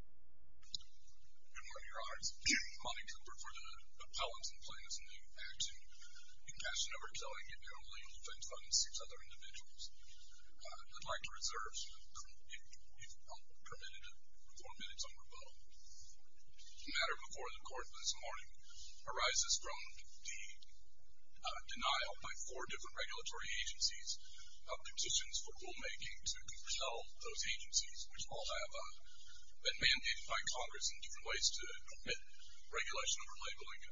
Good morning, Your Honor. It's Monty Cooper for the Appellants and Plaintiffs in the act in Compassion Over Killing, and you're only on defense fund and six other individuals. I'd like to reserve, if permitted, four minutes on rebuttal. The matter before the Court this morning arises from the denial by four different regulatory agencies of petitions for rulemaking to compel those agencies, which all have been mandated by Congress in different ways to commit regulation over labeling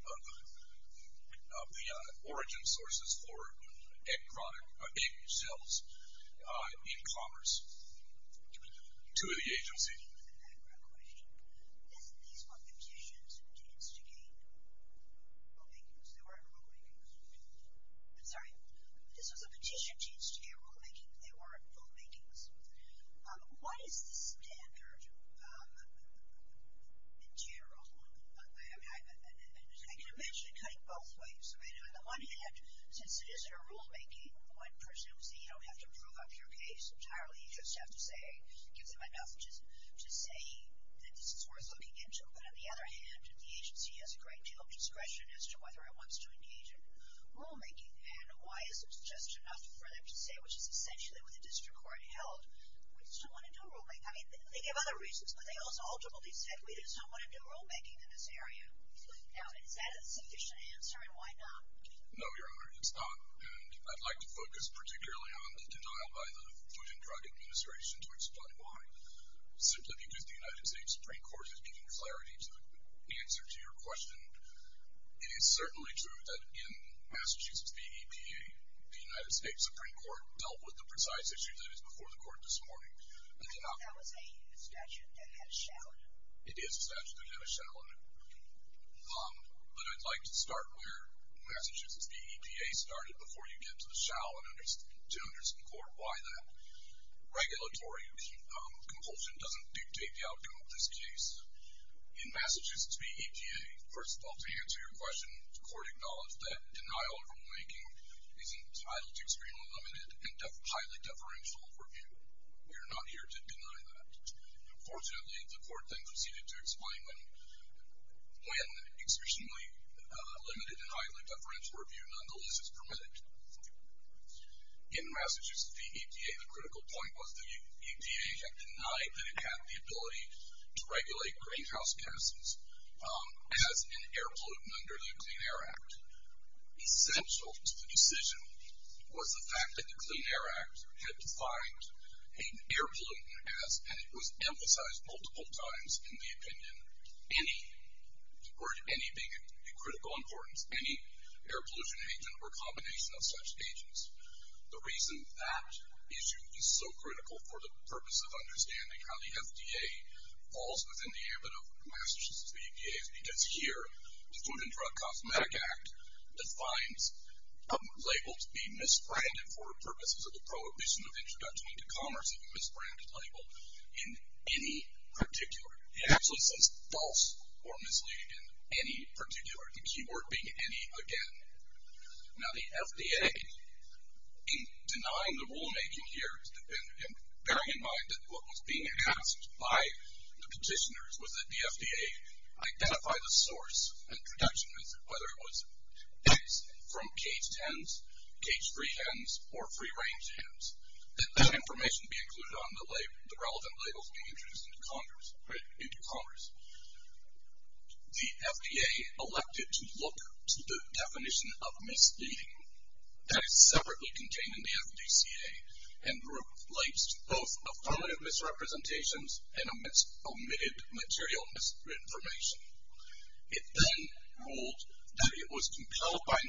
of the origin sources for egg cells in commerce to the agency. I have a background question. These were petitions to instigate rulemaking. They weren't rulemakings. I'm sorry. This was a petition to instigate rulemaking. They weren't rulemakings. What is the standard in general? I can imagine it cutting both ways. On the one hand, since it isn't a rulemaking, one presumes that you don't have to prove up your case entirely. You just have to say, give them enough to say that this is worth looking into. But on the other hand, the agency has a great deal of discretion as to whether it wants to engage in rulemaking. And why is it just enough for them to say, which is essentially what the district court held, we just don't want to do rulemaking? I mean, they gave other reasons, but they also ultimately said we just don't want to do rulemaking in this area. Now, is that a sufficient answer, and why not? No, Your Honor, it's not. And I'd like to focus particularly on the denial by the Food and Drug Administration to explain why. Simply because the United States Supreme Court has given clarity to the answer to your question. It is certainly true that in Massachusetts v. EPA, the United States Supreme Court dealt with the precise issue that is before the court this morning. But that was a statute that had a shall in it. It is a statute that had a shall in it. But I'd like to start where Massachusetts v. EPA started, before you get to the shall and to understand the court why that. Regulatory compulsion doesn't dictate the outcome of this case. In Massachusetts v. EPA, first of all, to answer your question, the court acknowledged that denial of rulemaking is entitled to extremely limited and highly deferential review. We are not here to deny that. Unfortunately, the court then proceeded to explain when extremely limited and highly deferential review nonetheless is permitted. In Massachusetts v. EPA, the critical point was the EPA had denied that it had the ability to regulate greenhouse gases as an air pollutant under the Clean Air Act. Essential to the decision was the fact that the Clean Air Act had defined an air pollutant as, and it was emphasized multiple times in the opinion, any, the word any being of critical importance, any air pollution agent or combination of such agents. The reason that issue is so critical for the purpose of understanding how the FDA falls within the ambit of Massachusetts v. EPA is because here the Food and Drug Cosmetic Act defines a label to be misbranded for purposes of the prohibition of introduction into commerce of a misbranded label in any particular. It absolutely says false or misleading in any particular, the key word being any again. Now the FDA, in denying the rulemaking here, bearing in mind that what was being asked by the petitioners was that the FDA identify the source and production method, whether it was eggs from caged hens, caged free hens, or free range hens, that that information be included on the relevant labels being introduced into commerce. The FDA elected to look to the definition of misleading that is separately contained in the FDCA and relates to both affirmative misrepresentations and omitted material misinformation. It then ruled that it was compelled by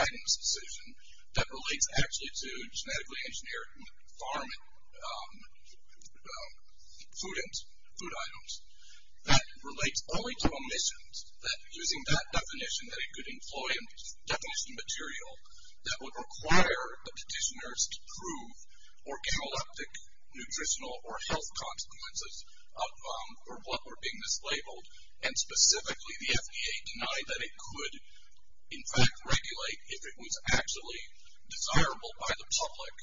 1992 guidance decision that relates actually to genetically engineered farm food items. That relates only to omissions. That using that definition that it could employ in definition material that would require the petitioners to prove organoleptic nutritional or health consequences for what were being mislabeled and specifically the FDA denied that it could in fact regulate if it was actually desirable by the public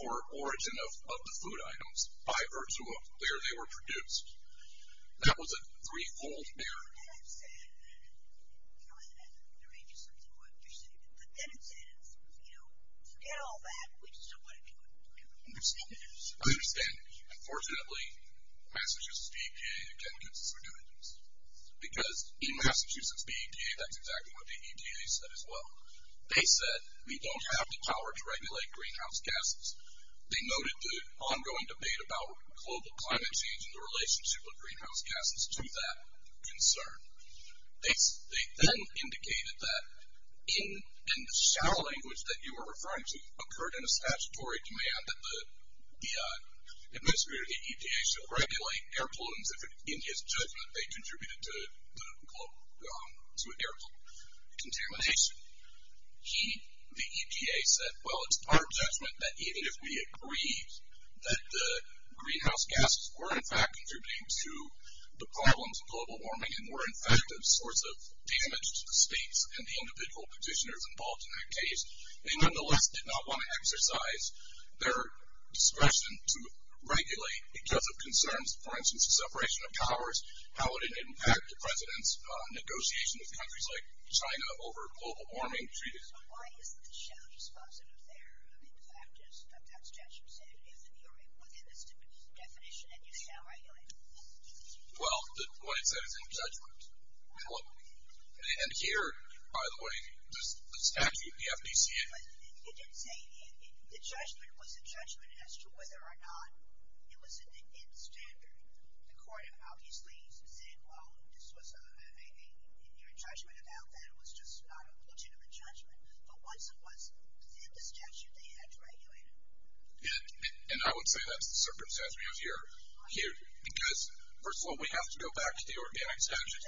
for origin of the food items by virtue of where they were produced. That was a three-fold error. I understand. Unfortunately, Massachusetts DEPA again gets its revenge. Because in Massachusetts DEPA, that's exactly what the EPA said as well. They said, we don't have the power to regulate greenhouse gases. They noted the ongoing debate about global climate change and the relationship with greenhouse gases to that concern. They then indicated that in the shallow language that you were referring to, occurred in a statutory demand that the administrator of the EPA should regulate air pollutants if in his judgment they contributed to air pollution contamination. The EPA said, well, it's our judgment that even if we agreed that the greenhouse gases were in fact contributing to the problems of global warming and were in fact a source of damage to the states and the individual petitioners involved in that case, they nonetheless did not want to exercise their discretion to regulate because of concerns, for instance, the separation of powers, how it impacted the President's negotiation with countries like China over global warming treaties. So why is the shallow response in there? I mean, the fact is that that statute said if you're within a definition, then you shall regulate. Well, what it said is in the judgment. And here, by the way, the statute, the FDCA. But you did say the judgment was a judgment as to whether or not it was in the standard. The court obviously said, well, this was a judgment about that. It was just not a legitimate judgment. But once it was in the statute, they had to regulate it. And I would say that's the circumstance we have here. Because, first of all, we have to go back to the organic statutes.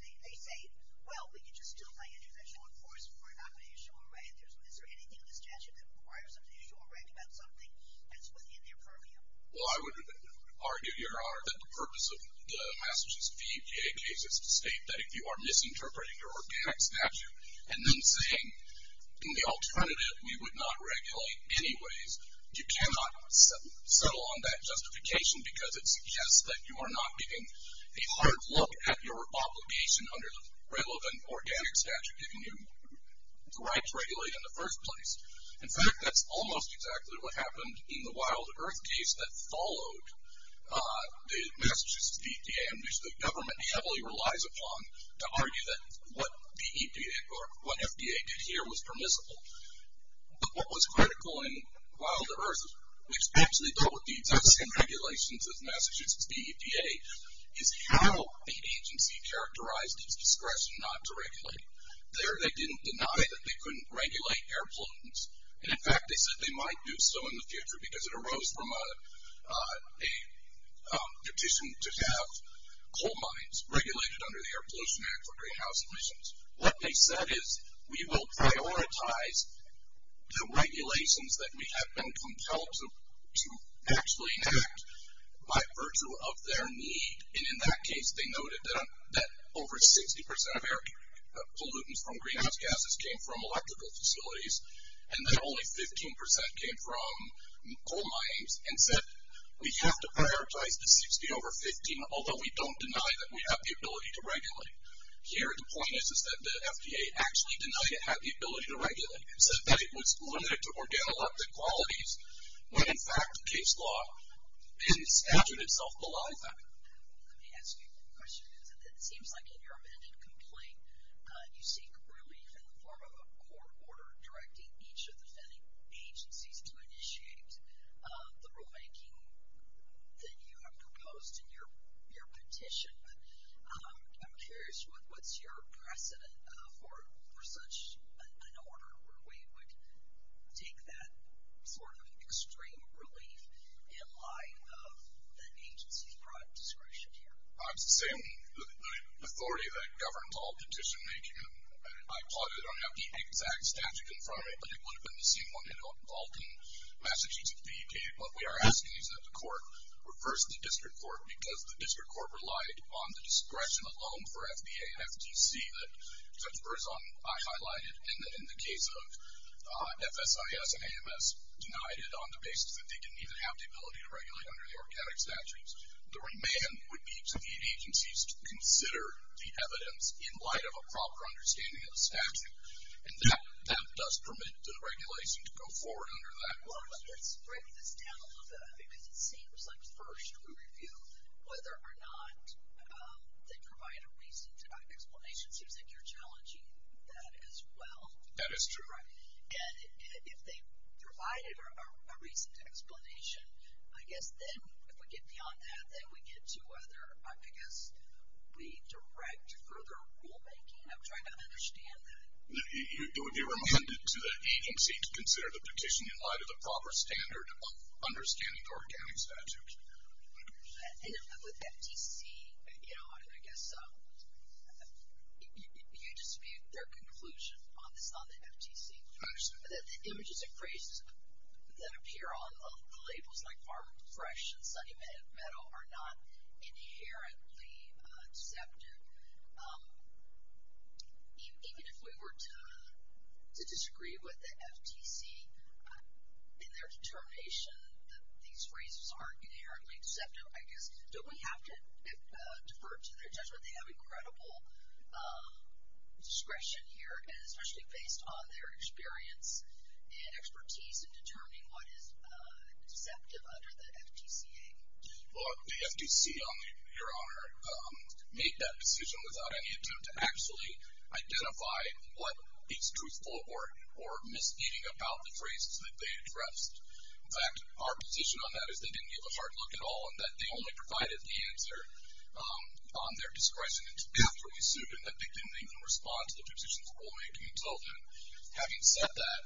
They say, well, we can just do it by individual enforcement. We're not going to issue a rank. Is there anything in the statute that requires us to issue a rank about something that's within their purview? Well, I would argue, Your Honor, that the purpose of the Massachusetts FDCA case is to state that if you are misinterpreting your organic statute and then saying in the alternative we would not regulate anyways, you cannot settle on that justification because it suggests that you are not giving a hard look at your obligation under the relevant organic statute giving you the right to regulate in the first place. In fact, that's almost exactly what happened in the Wilder Earth case that followed the Massachusetts FDCA, and which the government heavily relies upon to argue that what the EPA or what FDA did here was permissible. But what was critical in Wilder Earth, which actually dealt with the existing regulations of Massachusetts FDCA, is how the agency characterized its discretion not to regulate. They didn't deny that they couldn't regulate air pollutants. And in fact, they said they might do so in the future because it arose from a petition to have coal mines regulated under the Air Pollution Act for greenhouse emissions. What they said is we will prioritize the regulations that we have been compelled to actually enact by virtue of their need. And in that case, they noted that over 60% of air pollutants from greenhouse gases came from electrical facilities, and that only 15% came from coal mines, and said we have to prioritize the 60 over 15, although we don't deny that we have the ability to regulate. Here the point is that the FDA actually denied it had the ability to regulate. It said that it was limited to organ elected qualities, but in fact, case law, in statute itself, belies that. Let me ask you a question. It seems like in your amended complaint, you seek relief in the form of a court order directing each of the agencies to initiate the rulemaking that you have proposed in your petition. But I'm curious, what's your precedent for such an order where we would take that sort of extreme relief in line of an agency's product discretion here? It's the same authority that governs all petition making. I applaud it. I don't have the exact statute in front of me, but it would have been the same one in Alton, Massachusetts, the EPA. What we are asking is that the court reverse the district court because the district court relied on the discretion alone for FDA and FTC that Judge Berzon and I highlighted, and that in the case of FSIS and AMS, denied it on the basis that they didn't even have the ability to regulate under the organic statutes. The remand would be to the agencies to consider the evidence in light of a proper understanding of the statute, and that does permit the regulation to go forward under that order. Let's break this down a little bit because it seems like first we review whether or not they provide a recent explanation. It seems like you're challenging that as well. That is true. And if they provided a recent explanation, I guess then if we get beyond that, then we get to whether I guess we direct further rulemaking. I'm trying to understand that. It would be remanded to the agency to consider the petition in light of a proper standard of understanding the organic statute. And with FTC, you know, I guess you dispute their conclusion on this, on the FTC. I understand. The images and phrases that appear on the labels like farm fresh and sunny meadow are not inherently deceptive. Even if we were to disagree with the FTC in their determination that these phrases aren't inherently deceptive, I guess don't we have to defer to their judgment? They have incredible discretion here, and especially based on their experience and expertise in determining what is deceptive under the FTCA. Well, the FTC, Your Honor, made that decision without any attempt to actually identify what is truthful or misleading about the phrases that they addressed. In fact, our position on that is they didn't give a hard look at all and that they only provided the answer on their discretion. And to be absolutely certain that they didn't even respond to the petition's rulemaking until then. Having said that,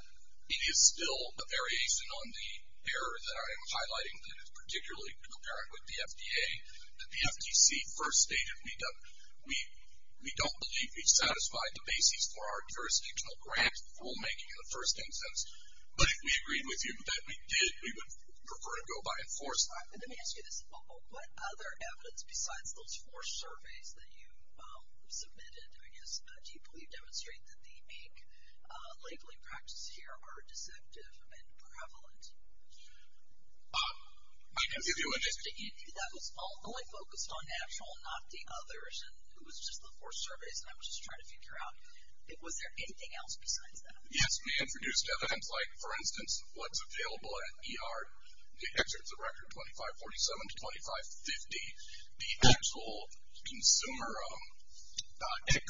it is still a variation on the error that I am highlighting that is particularly apparent with the FDA. The FTC first stated we don't believe we've satisfied the basis for our jurisdictional grant rulemaking in the first instance. But if we agreed with you that we did, we would prefer to go by force. Let me ask you this. What other evidence besides those four surveys that you submitted, I guess, do you believe demonstrate that the mink labeling practices here are deceptive and prevalent? I can give you an example. You knew that was only focused on National, not the others, and it was just the four surveys, and I was just trying to figure out, was there anything else besides that? Yes, we introduced evidence like, for instance, what's available at ER, the excerpts of record 2547 to 2550, the actual consumer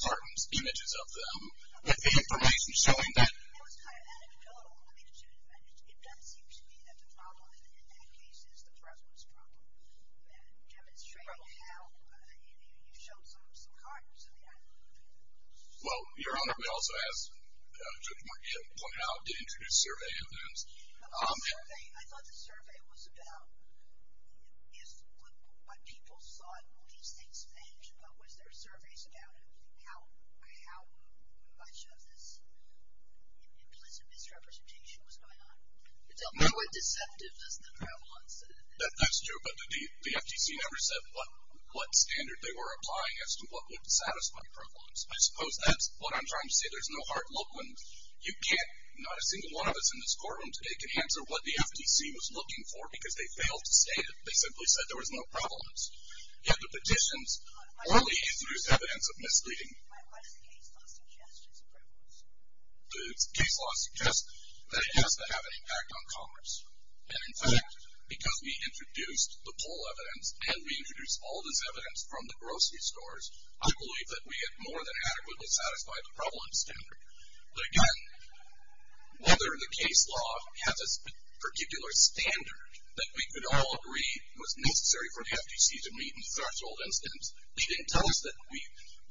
cartons, images of them, and the information showing that. It was kind of anecdotal. I mean, it doesn't seem to be that the problem in that case is the preference problem. Demonstrate how you showed some cartons of the item. Well, Your Honor, we also asked Judge Marget to point out, to introduce survey evidence. I thought the survey was about what people thought these things meant, and what was their surveys about, and how much of this implicit misrepresentation was going on. It's nowhere deceptive as the prevalence. That's true, but the FTC never said what standard they were applying as to what would satisfy prevalence. I suppose that's what I'm trying to say. You can't, not a single one of us in this courtroom today can answer what the FTC was looking for, because they failed to state it. They simply said there was no prevalence. Yet the petitions only introduced evidence of misleading. The case law suggests that it has to have an impact on commerce. And, in fact, because we introduced the poll evidence, and we introduced all this evidence from the grocery stores, I believe that we had more than adequately satisfied the prevalence standard. But, again, whether the case law has a particular standard that we could all agree was necessary for the FTC to meet, in the first instance, they didn't tell us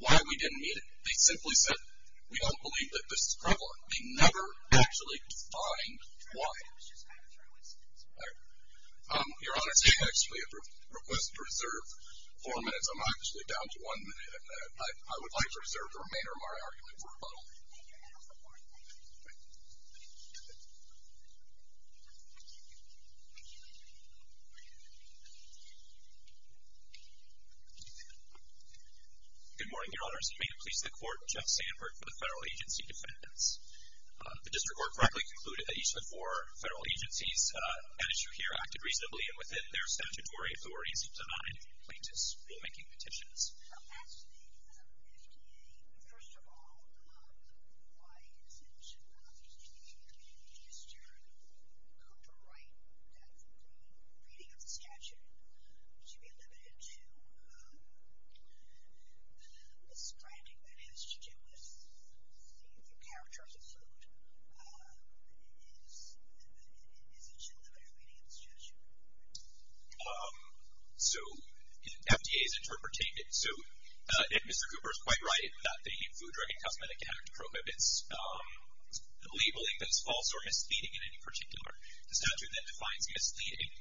why we didn't meet it. They simply said, we don't believe that this is prevalent. They never actually defined why. Your Honor, I actually have a request to reserve four minutes. I'm actually down to one minute, and I would like to reserve the remainder of my argument for rebuttal. Good morning, Your Honors. I'm here to please the Court, Jeff Sandberg, for the federal agency defendants. The district court correctly concluded that each of the four federal agencies at issue here acted reasonably, and within their statutory authorities, denied any plaintiffs' rulemaking petitions. Well, that's the FTA. First of all, why is it that the district court could write that the reading of the statute should be limited to the stranding that has to do with the character of the suit? Is it just a limited reading of the statute? So, the FTA is interpreting it. So, Mr. Cooper is quite right that the Food, Drug, and Cosmetic Act prohibits labeling things false or misleading in any particular statute that defines misleading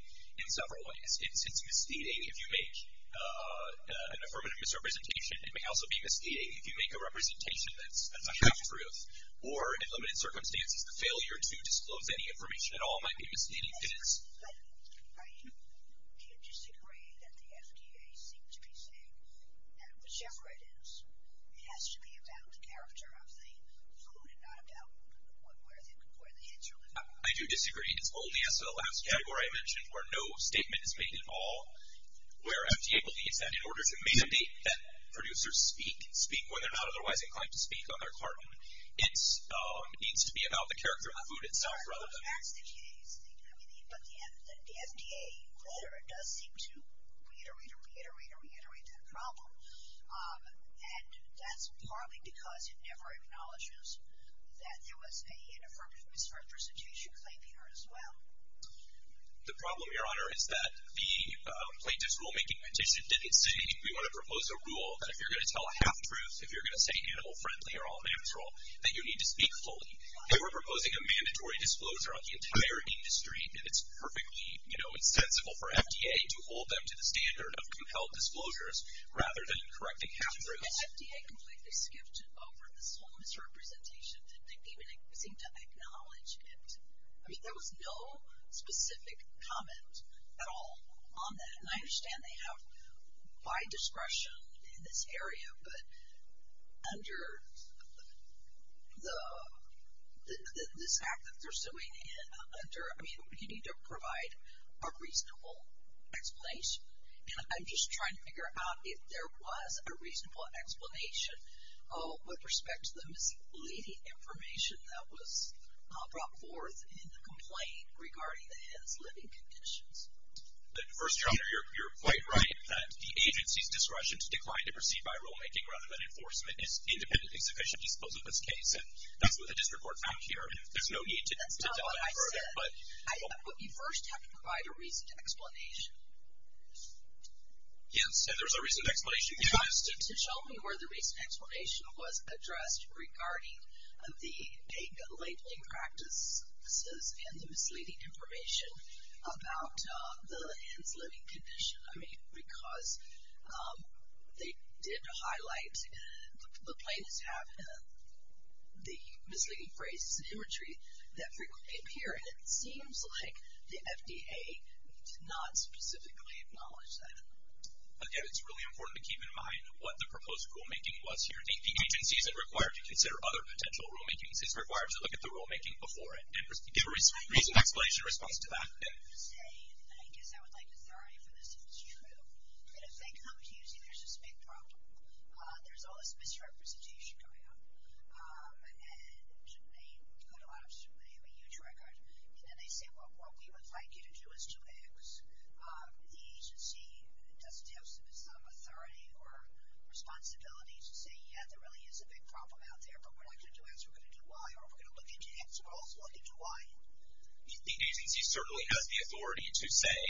in several ways. It's misleading if you make an affirmative misrepresentation. It may also be misleading if you make a representation that's a half-truth, or, in limited circumstances, the failure to disclose any information at all might be misleading. But I do disagree that the FTA seems to be saying that whichever it is, it has to be about the character of the food and not about where the hits are. I do disagree. It's only as to the last category I mentioned, where no statement is made at all, where FTA believes that in order to mandate that producers speak, when they're not otherwise inclined to speak on their carton, it needs to be about the character of the food itself rather than... But that's the FTA's thing. But the FDA, whether it does seem to reiterate or reiterate or reiterate that problem, and that's partly because it never acknowledges that there was an affirmative misrepresentation claim here as well. The problem, Your Honor, is that the plaintiff's rulemaking petition didn't say, we want to propose a rule that if you're going to tell a half-truth, if you're going to say animal-friendly or all-natural, that you need to speak fully. They were proposing a mandatory disclosure on the entire industry, and it's perfectly, you know, insensible for FDA to hold them to the standard of compelled disclosures rather than correcting half-truths. The FDA completely skipped over this whole misrepresentation. They didn't even seem to acknowledge it. I mean, there was no specific comment at all on that. And I understand they have wide discretion in this area, but under this act that they're suing under, I mean, you need to provide a reasonable explanation. And I'm just trying to figure out if there was a reasonable explanation with respect to the misleading information that was brought forth in the complaint regarding the head's living conditions. But first, John, you're quite right that the agency's discretion to decline to proceed by rulemaking rather than enforcement is independently sufficient, I suppose, in this case. And that's what the district court found here. And there's no need to tell a half-truth. That's not what I said. You first have to provide a reason to explanation. Yes, and there's a reason to explanation. You have to show me where the reason to explanation was addressed regarding the labeling practices and the misleading information about the head's living condition. I mean, because they did highlight, the plaintiffs have the misleading phrases and imagery that frequently appear, and it seems like the FDA did not specifically acknowledge that. Again, it's really important to keep in mind what the proposed rulemaking was here. The agencies that require to consider other potential rulemakings require to look at the rulemaking before it and give a reason to explanation in response to that. I would like to say, and I guess I would like authority for this if it's true, that if they come to you and say there's this big problem, there's all this misrepresentation going on. And they put a lot of scrutiny on the U.S. record. And then they say, well, what we would like you to do is to fix. The agency doesn't have some authority or responsibility to say, yeah, there really is a big problem out there, but we're not going to do X, we're going to do Y. Or if we're going to look into X, we're also going to do Y. The agency certainly has the authority to say,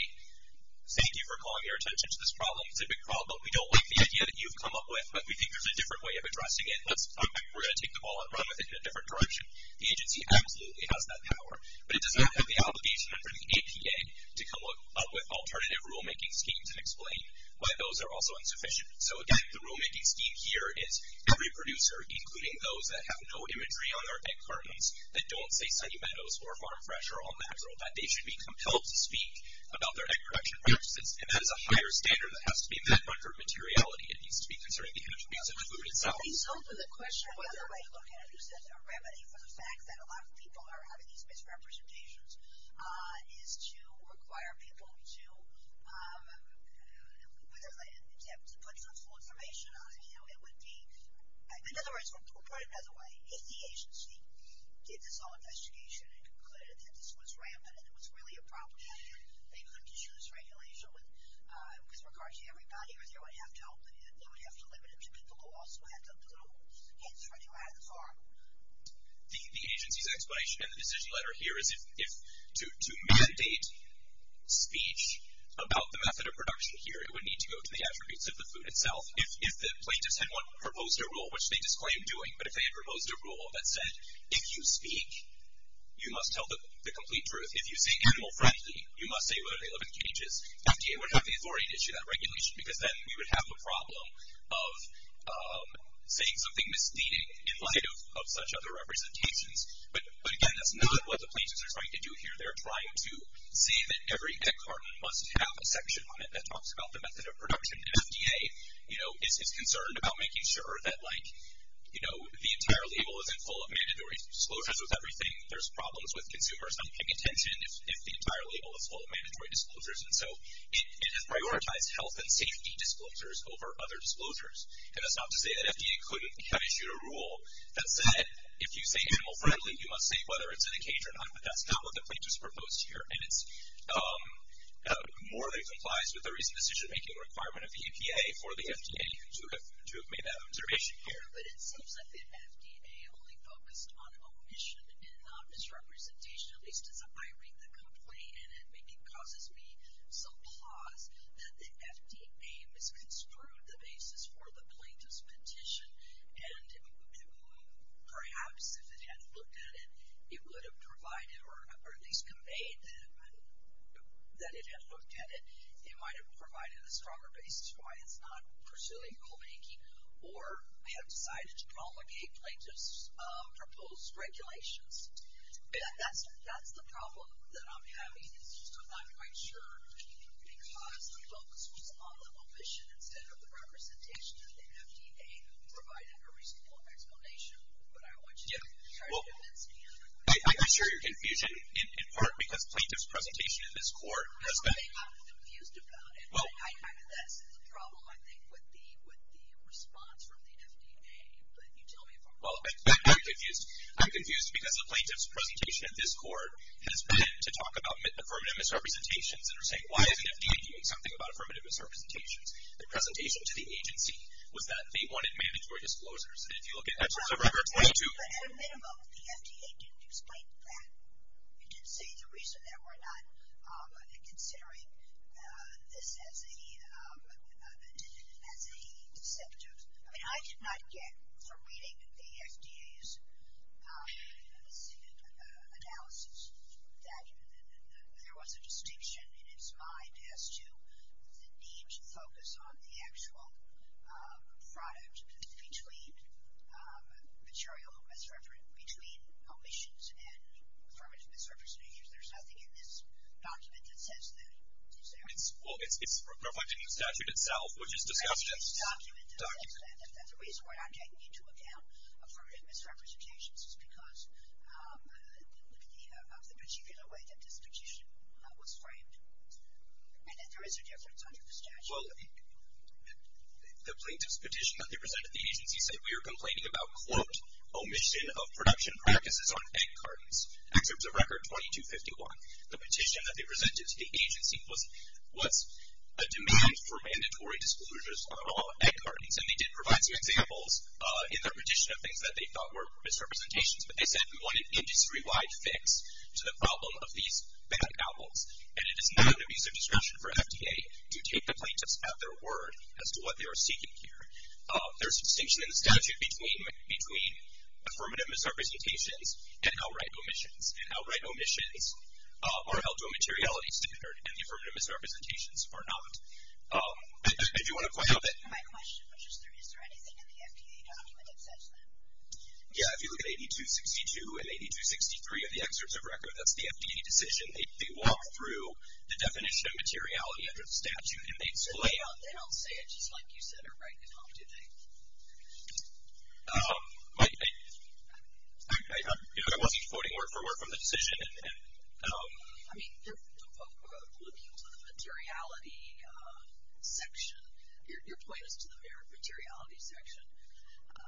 thank you for calling your attention to this problem. It's a big problem. We don't like the idea that you've come up with, but we think there's a different way of addressing it. Let's talk about it. We're going to take the ball and run with it in a different direction. The agency absolutely has that power. But it does not have the obligation under the APA to come up with alternative rulemaking schemes and explain why those are also insufficient. So, again, the rulemaking scheme here is every producer, including those that have no imagery on their egg cartons, that don't say Sunny Meadows or Farm Fresh or All Natural, that they should be compelled to speak about their egg production practices. And that is a higher standard that has to be met under materiality. It needs to be concerned with the attributes of the food itself. The other way to look at it, which is a remedy for the fact that a lot of people are having these misrepresentations, is to require people to put truthful information on it. In other words, put it another way, if the agency did this whole investigation and concluded that this was rampant and it was really a problem and they couldn't issue this regulation with regard to everybody, or they would have to limit it to people who also had to do things for you at the farm. The agency's explanation in the decision letter here is if to mandate speech about the method of production here, it would need to go to the attributes of the food itself. If the plaintiffs had proposed a rule, which they disclaimed doing, but if they had proposed a rule that said, if you speak, you must tell the complete truth, if you say animal-friendly, you must say whether they live in cages, FDA would have the authority to issue that regulation because then we would have a problem of saying something misleading in light of such other representations. But again, that's not what the plaintiffs are trying to do here. They're trying to say that every egg carton must have a section on it that talks about the method of production, and FDA is concerned about making sure that the entire label isn't full of mandatory disclosures with everything. There's problems with consumers not paying attention if the entire label is full of mandatory disclosures. And so it has prioritized health and safety disclosures over other disclosures. And that's not to say that FDA couldn't have issued a rule that said, if you say animal-friendly, you must say whether it's in a cage or not. But that's not what the plaintiffs proposed here, and it more than complies with the recent decision-making requirement of the EPA for the FDA to have made that observation here. But it seems that the FDA only focused on omission and not misrepresentation, at least as a hiring complaint, and it causes me some pause that the FDA misconstrued the basis for the plaintiff's petition, and perhaps if it had looked at it, it would have provided, or at least conveyed that it had looked at it, it might have provided a stronger basis for why it's not pursuing rulemaking, or have decided to promulgate plaintiffs' proposed regulations. That's the problem that I'm having. It's just I'm not quite sure, because the focus was on the omission instead of the representation of the FDA who provided a reasonable explanation. But I want you to try to convince me of that. I'm not sure you're confused, in part because plaintiff's presentation in this court has been... No, I think I'm confused about it. I mean, that's the problem, I think, with the response from the FDA. But you tell me if I'm wrong. Well, I'm confused because the plaintiff's presentation at this court has been to talk about affirmative misrepresentations, and they're saying why isn't the FDA doing something about affirmative misrepresentations? The presentation to the agency was that they wanted mandatory disclosures. And if you look at... Well, but at a minimum, the FDA didn't explain that. It didn't say the reason that we're not considering this as a deceptive... I mean, I did not get from reading the FDA's analysis that there was a distinction in its mind as to the need to focus on the actual product between material misrepresentation, between omissions and affirmative misrepresentations. There's nothing in this document that says that. Is there? Well, it's reflected in the statute itself, which is discussed in this document. The reason why I'm taking into account affirmative misrepresentations is because of the particular way that this petition was framed. And that there is a difference under the statute. Well, the plaintiff's petition that they presented to the agency said we are complaining about, quote, omission of production practices on egg cartons. Excerpts of Record 2251. The petition that they presented to the agency was a demand for mandatory disclosures on all egg cartons. And they did provide some examples in their petition of things that they thought were misrepresentations. But they said we want an industry-wide fix to the problem of these bad apples. And it is not an abuse of discretion for FDA to take the plaintiffs at their word as to what they are seeking here. There's a distinction in the statute between affirmative misrepresentations and outright omissions. And outright omissions are held to a materiality standard. And the affirmative misrepresentations are not. If you want to point out that. My question was just, is there anything in the FDA document that says that? Yeah, if you look at 8262 and 8263 of the excerpts of Record, that's the FDA decision. They walk through the definition of materiality under the statute. They don't say it just like you said or write it off, do they? I wasn't quoting word for word from the decision. I mean, looking to the materiality section, your point is to the materiality section. I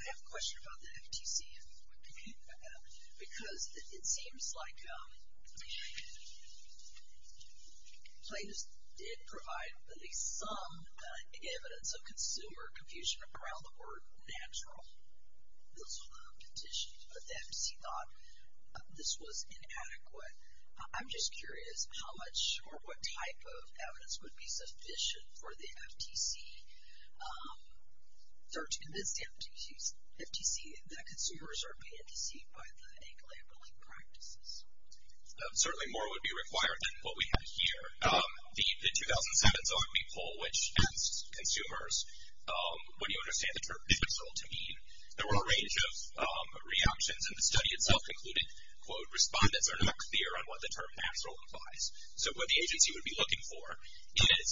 have a question about the FTC. Because it seems like plaintiffs did provide at least some evidence of consumer confusion around the word natural, those conditions. But the FTC thought this was inadequate. I'm just curious how much or what type of evidence would be sufficient for the FTC, to convince the FTC that consumers are being deceived by the aglomerating practices. Certainly more would be required than what we have here. The 2007 Zogby Poll, which asked consumers, what do you understand the term natural to mean? There were a range of reactions, and the study itself concluded, quote, respondents are not clear on what the term natural implies. So what the agency would be looking for is,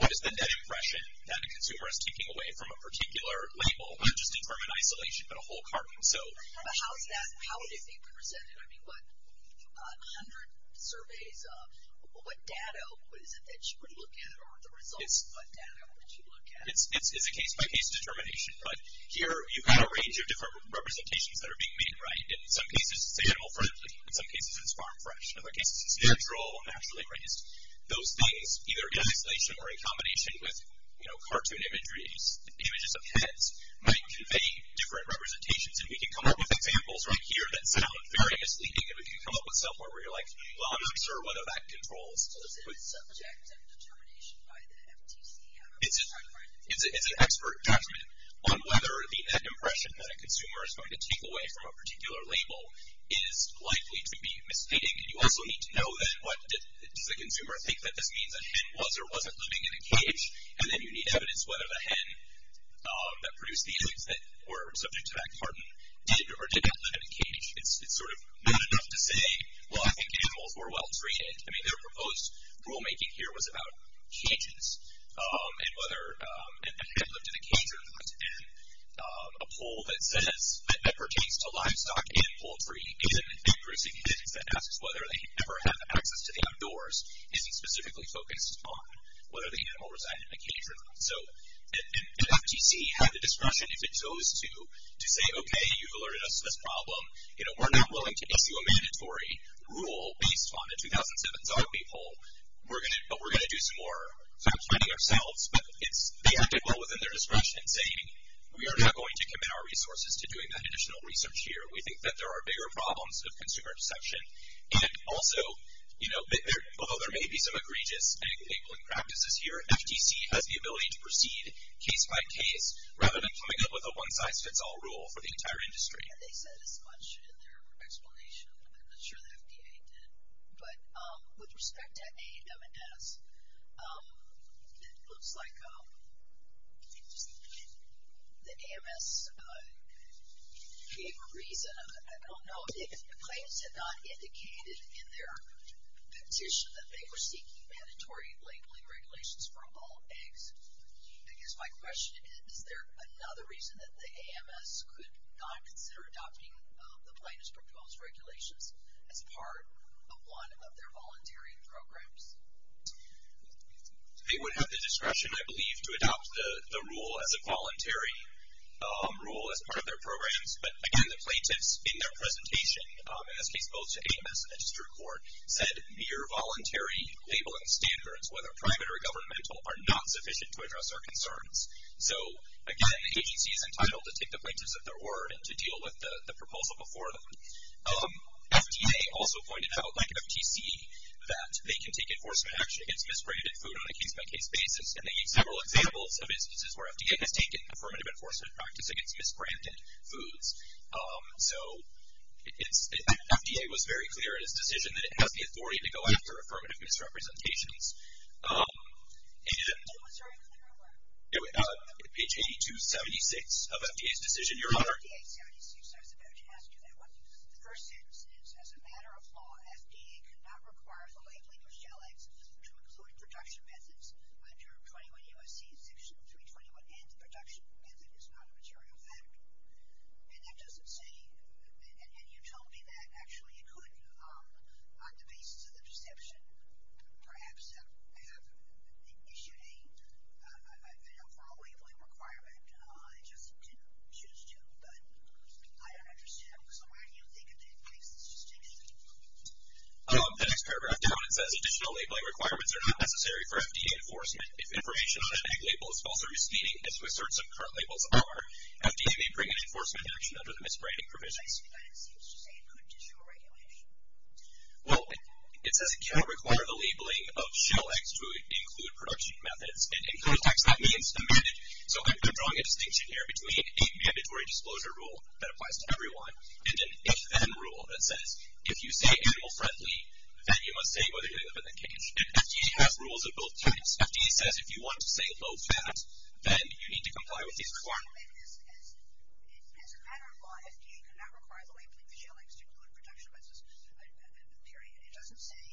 what is the net impression that a consumer is taking away from a particular label, not just a term in isolation, but a whole carton. But how is that, how is it being presented? I mean, what, 100 surveys, what data is it that you would look at, or the results, what data would you look at? It's a case-by-case determination. But here you've got a range of different representations that are being made. In some cases, it's animal friendly. In some cases, it's farm fresh. In other cases, it's natural, naturally raised. Those things, either in isolation or in combination with cartoon imagery, images of heads, might convey different representations. And we can come up with examples right here that sound very misleading. And we can come up with stuff where we're like, well, I'm not sure whether that controls. So there's a subject and determination by the MTC. It's an expert judgment on whether the net impression that a consumer is going to take away from a particular label is likely to be misleading. And you also need to know that, what, does the consumer think that this means a hen was or wasn't living in a cage? And then you need evidence whether the hen that produced the image that were subject to that cartoon did or did not live in a cage. It's sort of not enough to say, well, I think animals were well-treated. I mean, their proposed rulemaking here was about cages, and whether a hen lived in a cage or not. And a poll that says, that pertains to livestock and poultry, is an increasing evidence that asks whether they ever had access to the outdoors isn't specifically focused on whether the animal resided in a cage or not. So an FTC had the discretion, if it chose to, to say, okay, you've alerted us to this problem. You know, we're not willing to issue a mandatory rule based on a 2007 zombie poll, but we're going to do some more sort of planning ourselves. But they acted well within their discretion in saying, we are not going to commit our resources to doing that additional research here. We think that there are bigger problems of consumer deception. And also, you know, although there may be some egregious labeling practices here, FTC has the ability to proceed case by case, rather than coming up with a one-size-fits-all rule for the entire industry. And they said as much in their explanation. I'm not sure the FDA did. But with respect to A&M and S, it looks like the AMS gave a reason. I don't know if the claims had not indicated in their petition that they were seeking mandatory labeling regulations for all eggs. I guess my question is, is there another reason that the AMS could not consider adopting the plaintiff's proposed regulations as part of one of their voluntary programs? They would have the discretion, I believe, to adopt the rule as a voluntary rule as part of their programs. But, again, the plaintiffs in their presentation, in this case both to AMS and the district court, said mere voluntary labeling standards, whether private or governmental, are not sufficient to address our concerns. So, again, the agency is entitled to take the plaintiffs at their word and to deal with the proposal before them. FDA also pointed out, like FTC, that they can take enforcement action against misbranded food on a case-by-case basis. And they gave several examples of instances where FDA has taken affirmative enforcement practice against misbranded foods. So FDA was very clear in its decision that it has the authority to go after affirmative misrepresentations. And page 8276 of FDA's decision. Your Honor. I was about to ask you that one. The first sentence is, as a matter of law, FDA could not require the labeling of shell eggs to include production methods under 21 U.S.C. section 321, and the production method is not a material fact. And that doesn't seem, and you told me that actually it could, on the basis of the perception, perhaps have issued an overall labeling requirement. It just didn't choose to. But I don't understand. So why do you think in that case it's just a mistake? The next paragraph down, it says additional labeling requirements are not necessary for FDA enforcement. If information on an egg label is false or misleading, as my asserts of current labels are, FDA may bring an enforcement action under the misbranding provisions. But it seems to say it could issue a regulation. Well, it says it cannot require the labeling of shell eggs to include production methods. And in clear text, that means amended. So I'm drawing a distinction here between a mandatory disclosure rule that applies to everyone and an if-then rule that says if you say animal-friendly, then you must say whether you live in the cage. And FDA has rules of both types. FDA says if you want to say low-fat, then you need to comply with these requirements. As a matter of law, FDA cannot require the labeling of shell eggs to include production methods, period. It doesn't say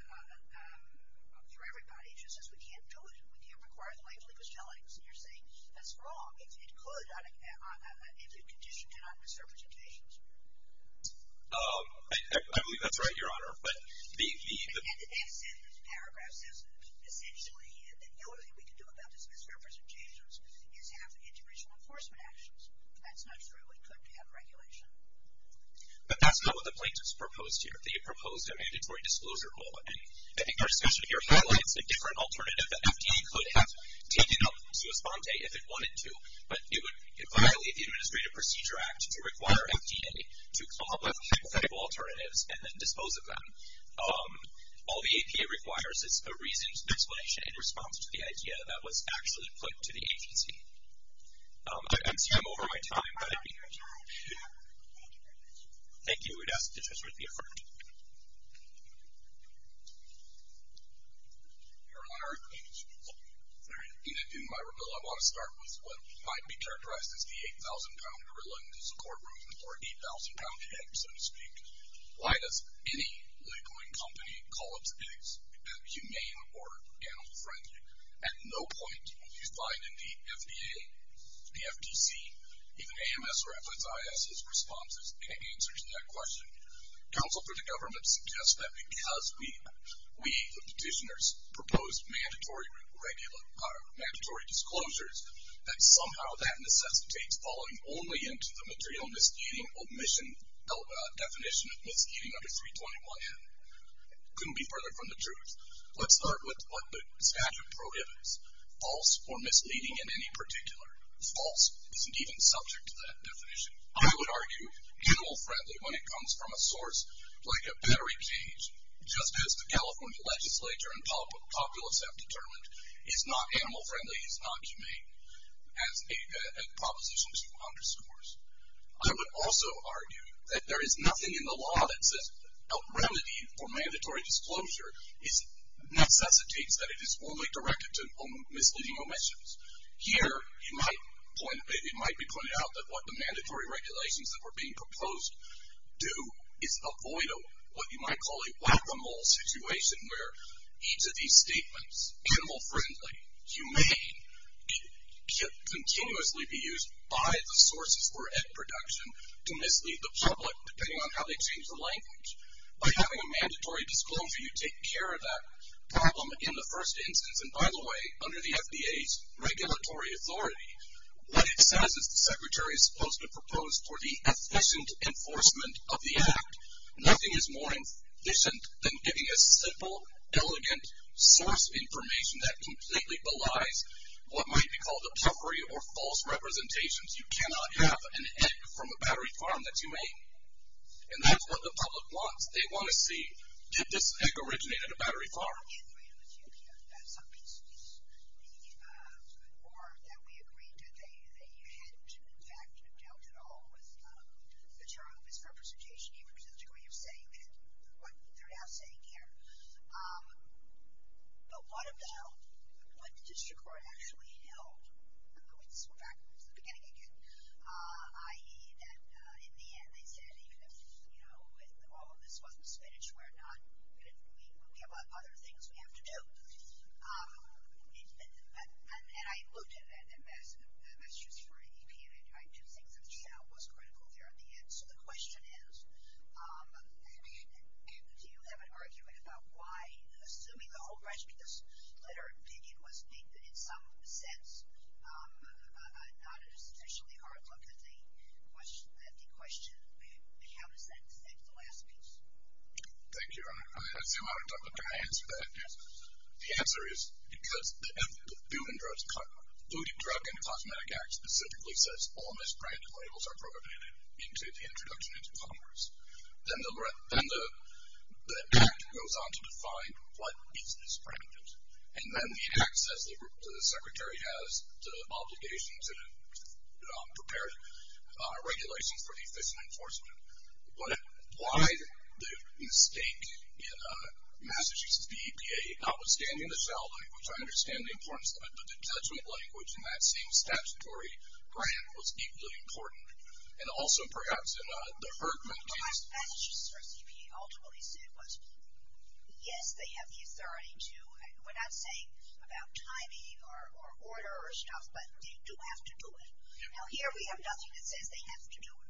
for everybody. It just says we can't do it. We can't require the labeling of shell eggs. And you're saying that's wrong. It could if you conditioned it on misrepresentations. I believe that's right, Your Honor. And the next paragraph says, essentially, the only thing we can do about these misrepresentations is have integration enforcement actions. That's not true. It could have regulation. But that's not what the plaintiff's proposed here. They proposed a mandatory disclosure rule. And I think our discussion here highlights a different alternative that FDA could have taken up to respond to if it wanted to. But it would violate the Administrative Procedure Act to require FDA to do that. All the APA requires is a reasoned explanation in response to the idea that was actually put to the agency. I've been saying over my time that I think that's wrong. Thank you. We'd ask that the judge be affirmed. Your Honor, in my rebuttal, I want to start with what might be characterized as the 8,000-pound gorilla in the support room, or 8,000-pound head, so to speak. Why does any licorice company call its pigs humane or animal friendly? At no point do we find in the FDA, the FTC, even AMS or FSIS's responses in answer to that question. Counsel for the government suggests that because we, the petitioners, proposed mandatory disclosures, that somehow that necessitates falling only into the material misguiding omission definition of misguiding under 321N. Couldn't be further from the truth. Let's start with what the statute prohibits, false or misleading in any particular. False isn't even subject to that definition. I would argue animal friendly when it comes from a source like a battery cage, just as the California legislature and populace have determined is not animal friendly, is not humane, as a proposition to underscores. I would also argue that there is nothing in the law that says a remedy for mandatory disclosure necessitates that it is only directed to misleading omissions. Here, it might be pointed out that what the mandatory regulations that were being proposed do is avoid what you might call a whack-a-mole situation, where each of these statements, animal friendly, humane, can continuously be used by the sources for egg production to mislead the public, depending on how they change the language. By having a mandatory disclosure, you take care of that problem in the first instance. And by the way, under the FDA's regulatory authority, what it says is the secretary is supposed to propose for the efficient enforcement of the act. Nothing is more efficient than giving a simple, elegant source of information that completely belies what might be called a puffery or false representations. You cannot have an egg from a battery farm that's humane. And that's what the public wants. They want to see, did this egg originate at a battery farm? I agree with you on some pieces. Or that we agree that they hadn't, in fact, dealt at all with material misrepresentation, even to the degree of saying what they're now saying here. But one of them, what the district court actually held, and I'm going to go back to the beginning again, i.e. that in the end, they said even if all of this wasn't finished, we have other things we have to do. And I looked at it, and that's just for APA. I do think that the shout was critical there at the end. So the question is, do you have an argument about why, assuming the whole rest of this letter of opinion was made in some sense, not a sufficiently hard look at the question, how does that fit the last piece? Thank you, Your Honor. I assume I answered that. The answer is because the Food and Drug and Cosmetic Act specifically says all misbranded labels are prohibited into the introduction into Congress. Then the act goes on to define what is misbranded. And then the act says the secretary has the obligation to prepare regulations for the efficient enforcement. But why the mistake in Massachusetts v. APA, notwithstanding the shout language, I understand the importance of it, but the judgment language in that same statutory grant was equally important. And also perhaps in the herd mentality. Massachusetts v. APA ultimately said, yes, they have the authority to, we're not saying about timing or order or stuff, but they do have to do it. Now here we have nothing that says they have to do it.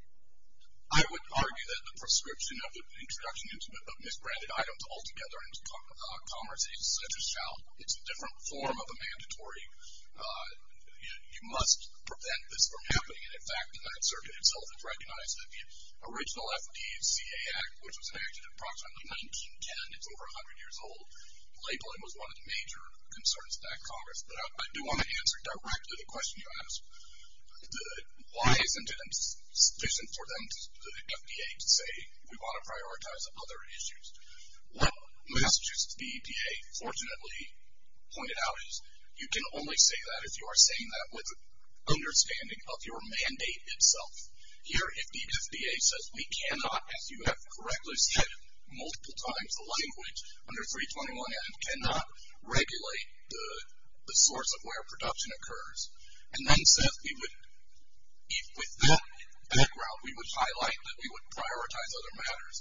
I would argue that the prescription of the introduction of misbranded items altogether into Congress is such a shout. It's a different form of a mandatory, you must prevent this from happening. And, in fact, the Ninth Circuit itself has recognized that the original FDCA Act, which was enacted approximately 1910, it's over 100 years old, labeling was one of the major concerns of that Congress. But I do want to answer directly the question you asked. Why isn't it sufficient for them, the FDA, to say we want to prioritize other issues? Well, Massachusetts v. APA fortunately pointed out you can only say that if you are saying that with understanding of your mandate itself. Here the FDA says we cannot, as you have correctly said multiple times, the language under 321F cannot regulate the source of where production occurs. And then says we would, with that background, we would highlight that we would prioritize other matters.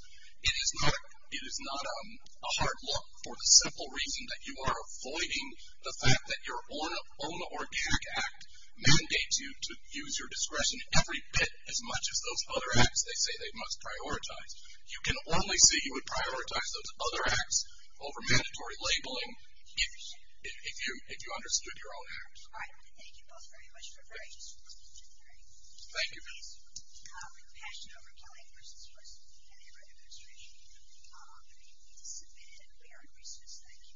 It is not a hard look for the simple reason that you are avoiding the fact that your own organic act mandates you to use your discretion every bit as much as those other acts they say they must prioritize. You can only say you would prioritize those other acts over mandatory labeling if you understood your own act. All right. Thank you both very much. We're very disappointed. Thank you. We're passionate over Kelly vs. Wesson and their administration. If you have anything to submit, we are in recess. Thank you.